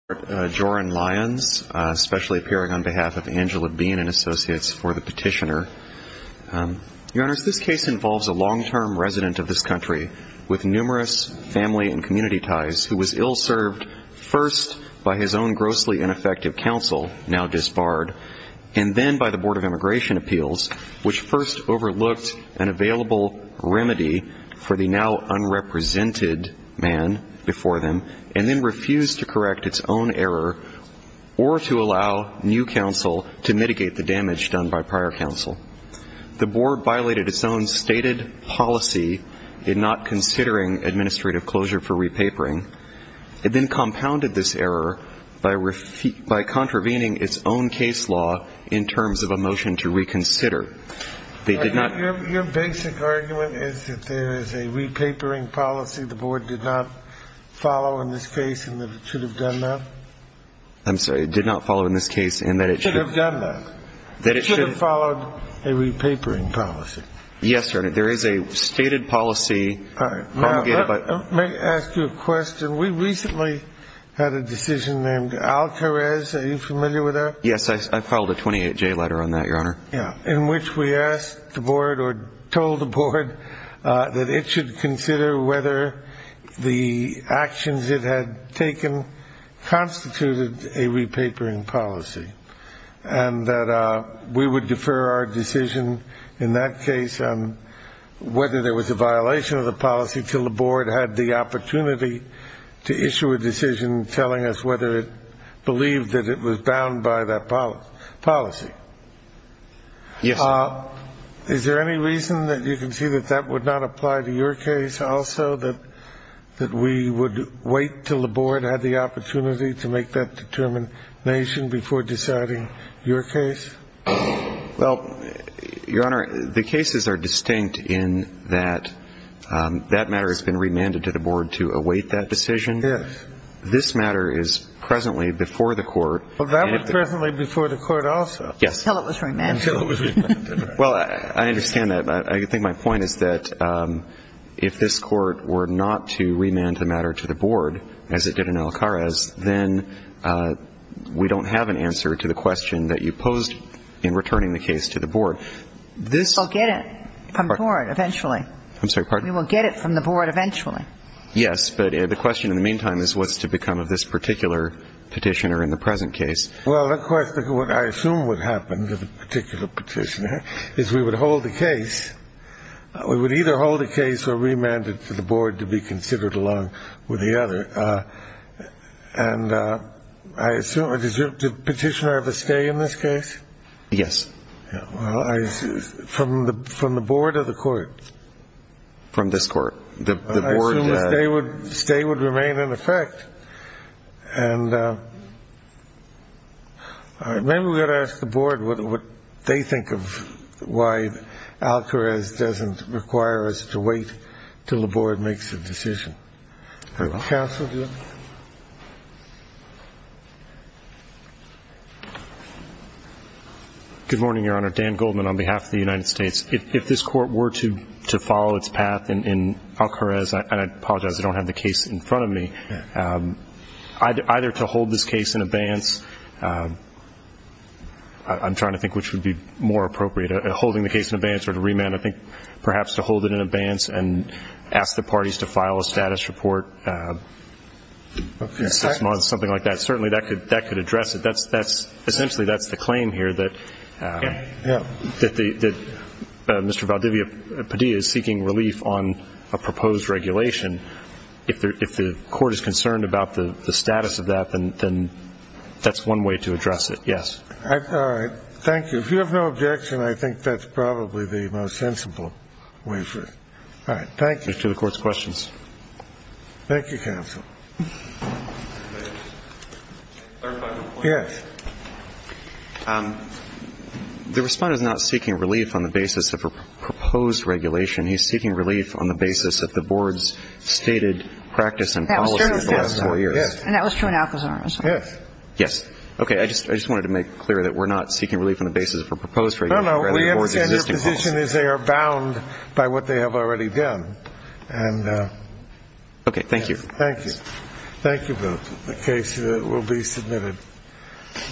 Joran Lyons, specially appearing on behalf of Angela Bean and Associates for the petitioner. Your Honors, this case involves a long-term resident of this country with numerous family and community ties who was ill-served first by his own grossly ineffective counsel, now disbarred, and then by the Board of Immigration Appeals, which first overlooked an available remedy for the now unrepresented man before them, and then refused to correct its own error or to allow new counsel to mitigate the damage done by prior counsel. The Board violated its own stated policy in not considering administrative closure for repapering and then compounded this error by contravening its own case law in terms of a motion to reconsider. Your basic argument is that there is a repapering policy the Board did not follow in this case and that it should have done that? I'm sorry, it did not follow in this case and that it should have done that? That it should have followed a repapering policy? Yes, Your Honor, there is a stated policy. All right. May I ask you a question? We recently had a decision named Alcarez. Are you familiar with that? Yes, I filed a 28-J letter on that, Your Honor. Yes, in which we asked the Board or told the Board that it should consider whether the actions it had taken constituted a repapering policy and that we would defer our decision in that case on whether there was a violation of the policy until the Board had the opportunity to issue a decision telling us whether it believed that it was bound by that policy? Yes. Is there any reason that you can see that that would not apply to your case also, that we would wait until the Board had the opportunity to make that determination before deciding your case? Well, Your Honor, the cases are distinct in that that matter has been remanded to the Board to await that decision. Yes. This matter is presently before the Court. Well, that was presently before the Court also. Yes. Until it was remanded. Until it was remanded. Well, I understand that. But I think my point is that if this Court were not to remand the matter to the Board, as it did in Alcarez, then we don't have an answer to the question that you posed in returning the case to the Board. We'll get it from the Board eventually. I'm sorry. We will get it from the Board eventually. Yes, but the question in the meantime is what's to become of this particular petitioner in the present case. Well, of course, what I assume would happen to the particular petitioner is we would hold the case. We would either hold the case or remand it to the Board to be considered along with the other. And I assume a petitioner of a stay in this case? Yes. Well, from the Board or the Court? From this Court. I assume a stay would remain in effect. And maybe we ought to ask the Board what they think of why Alcarez doesn't require us to wait until the Board makes a decision. Counsel? Good morning, Your Honor. Dan Goldman on behalf of the United States. If this Court were to follow its path in Alcarez, and I apologize, I don't have the case in front of me, either to hold this case in abeyance, I'm trying to think which would be more appropriate, holding the case in abeyance or to remand, I think perhaps to hold it in abeyance and ask the parties to file a status report, something like that. Certainly, that could address it. Essentially, that's the claim here that Mr. Valdivia-Padilla is seeking relief on a proposed regulation. If the Court is concerned about the status of that, then that's one way to address it. Yes. All right. Thank you. If you have no objection, I think that's probably the most sensible way for it. All right. Thank you. Thank you, counsel. Yes. The Responder is not seeking relief on the basis of a proposed regulation. He's seeking relief on the basis of the Board's stated practice and policy in the last four years. Yes. Yes. Okay. I just wanted to make clear that we're not seeking relief on the basis of a proposed regulation. No, no. We understand your position is they are bound by what they have already done. Okay. Thank you. Thank you. Thank you both. The case will be submitted.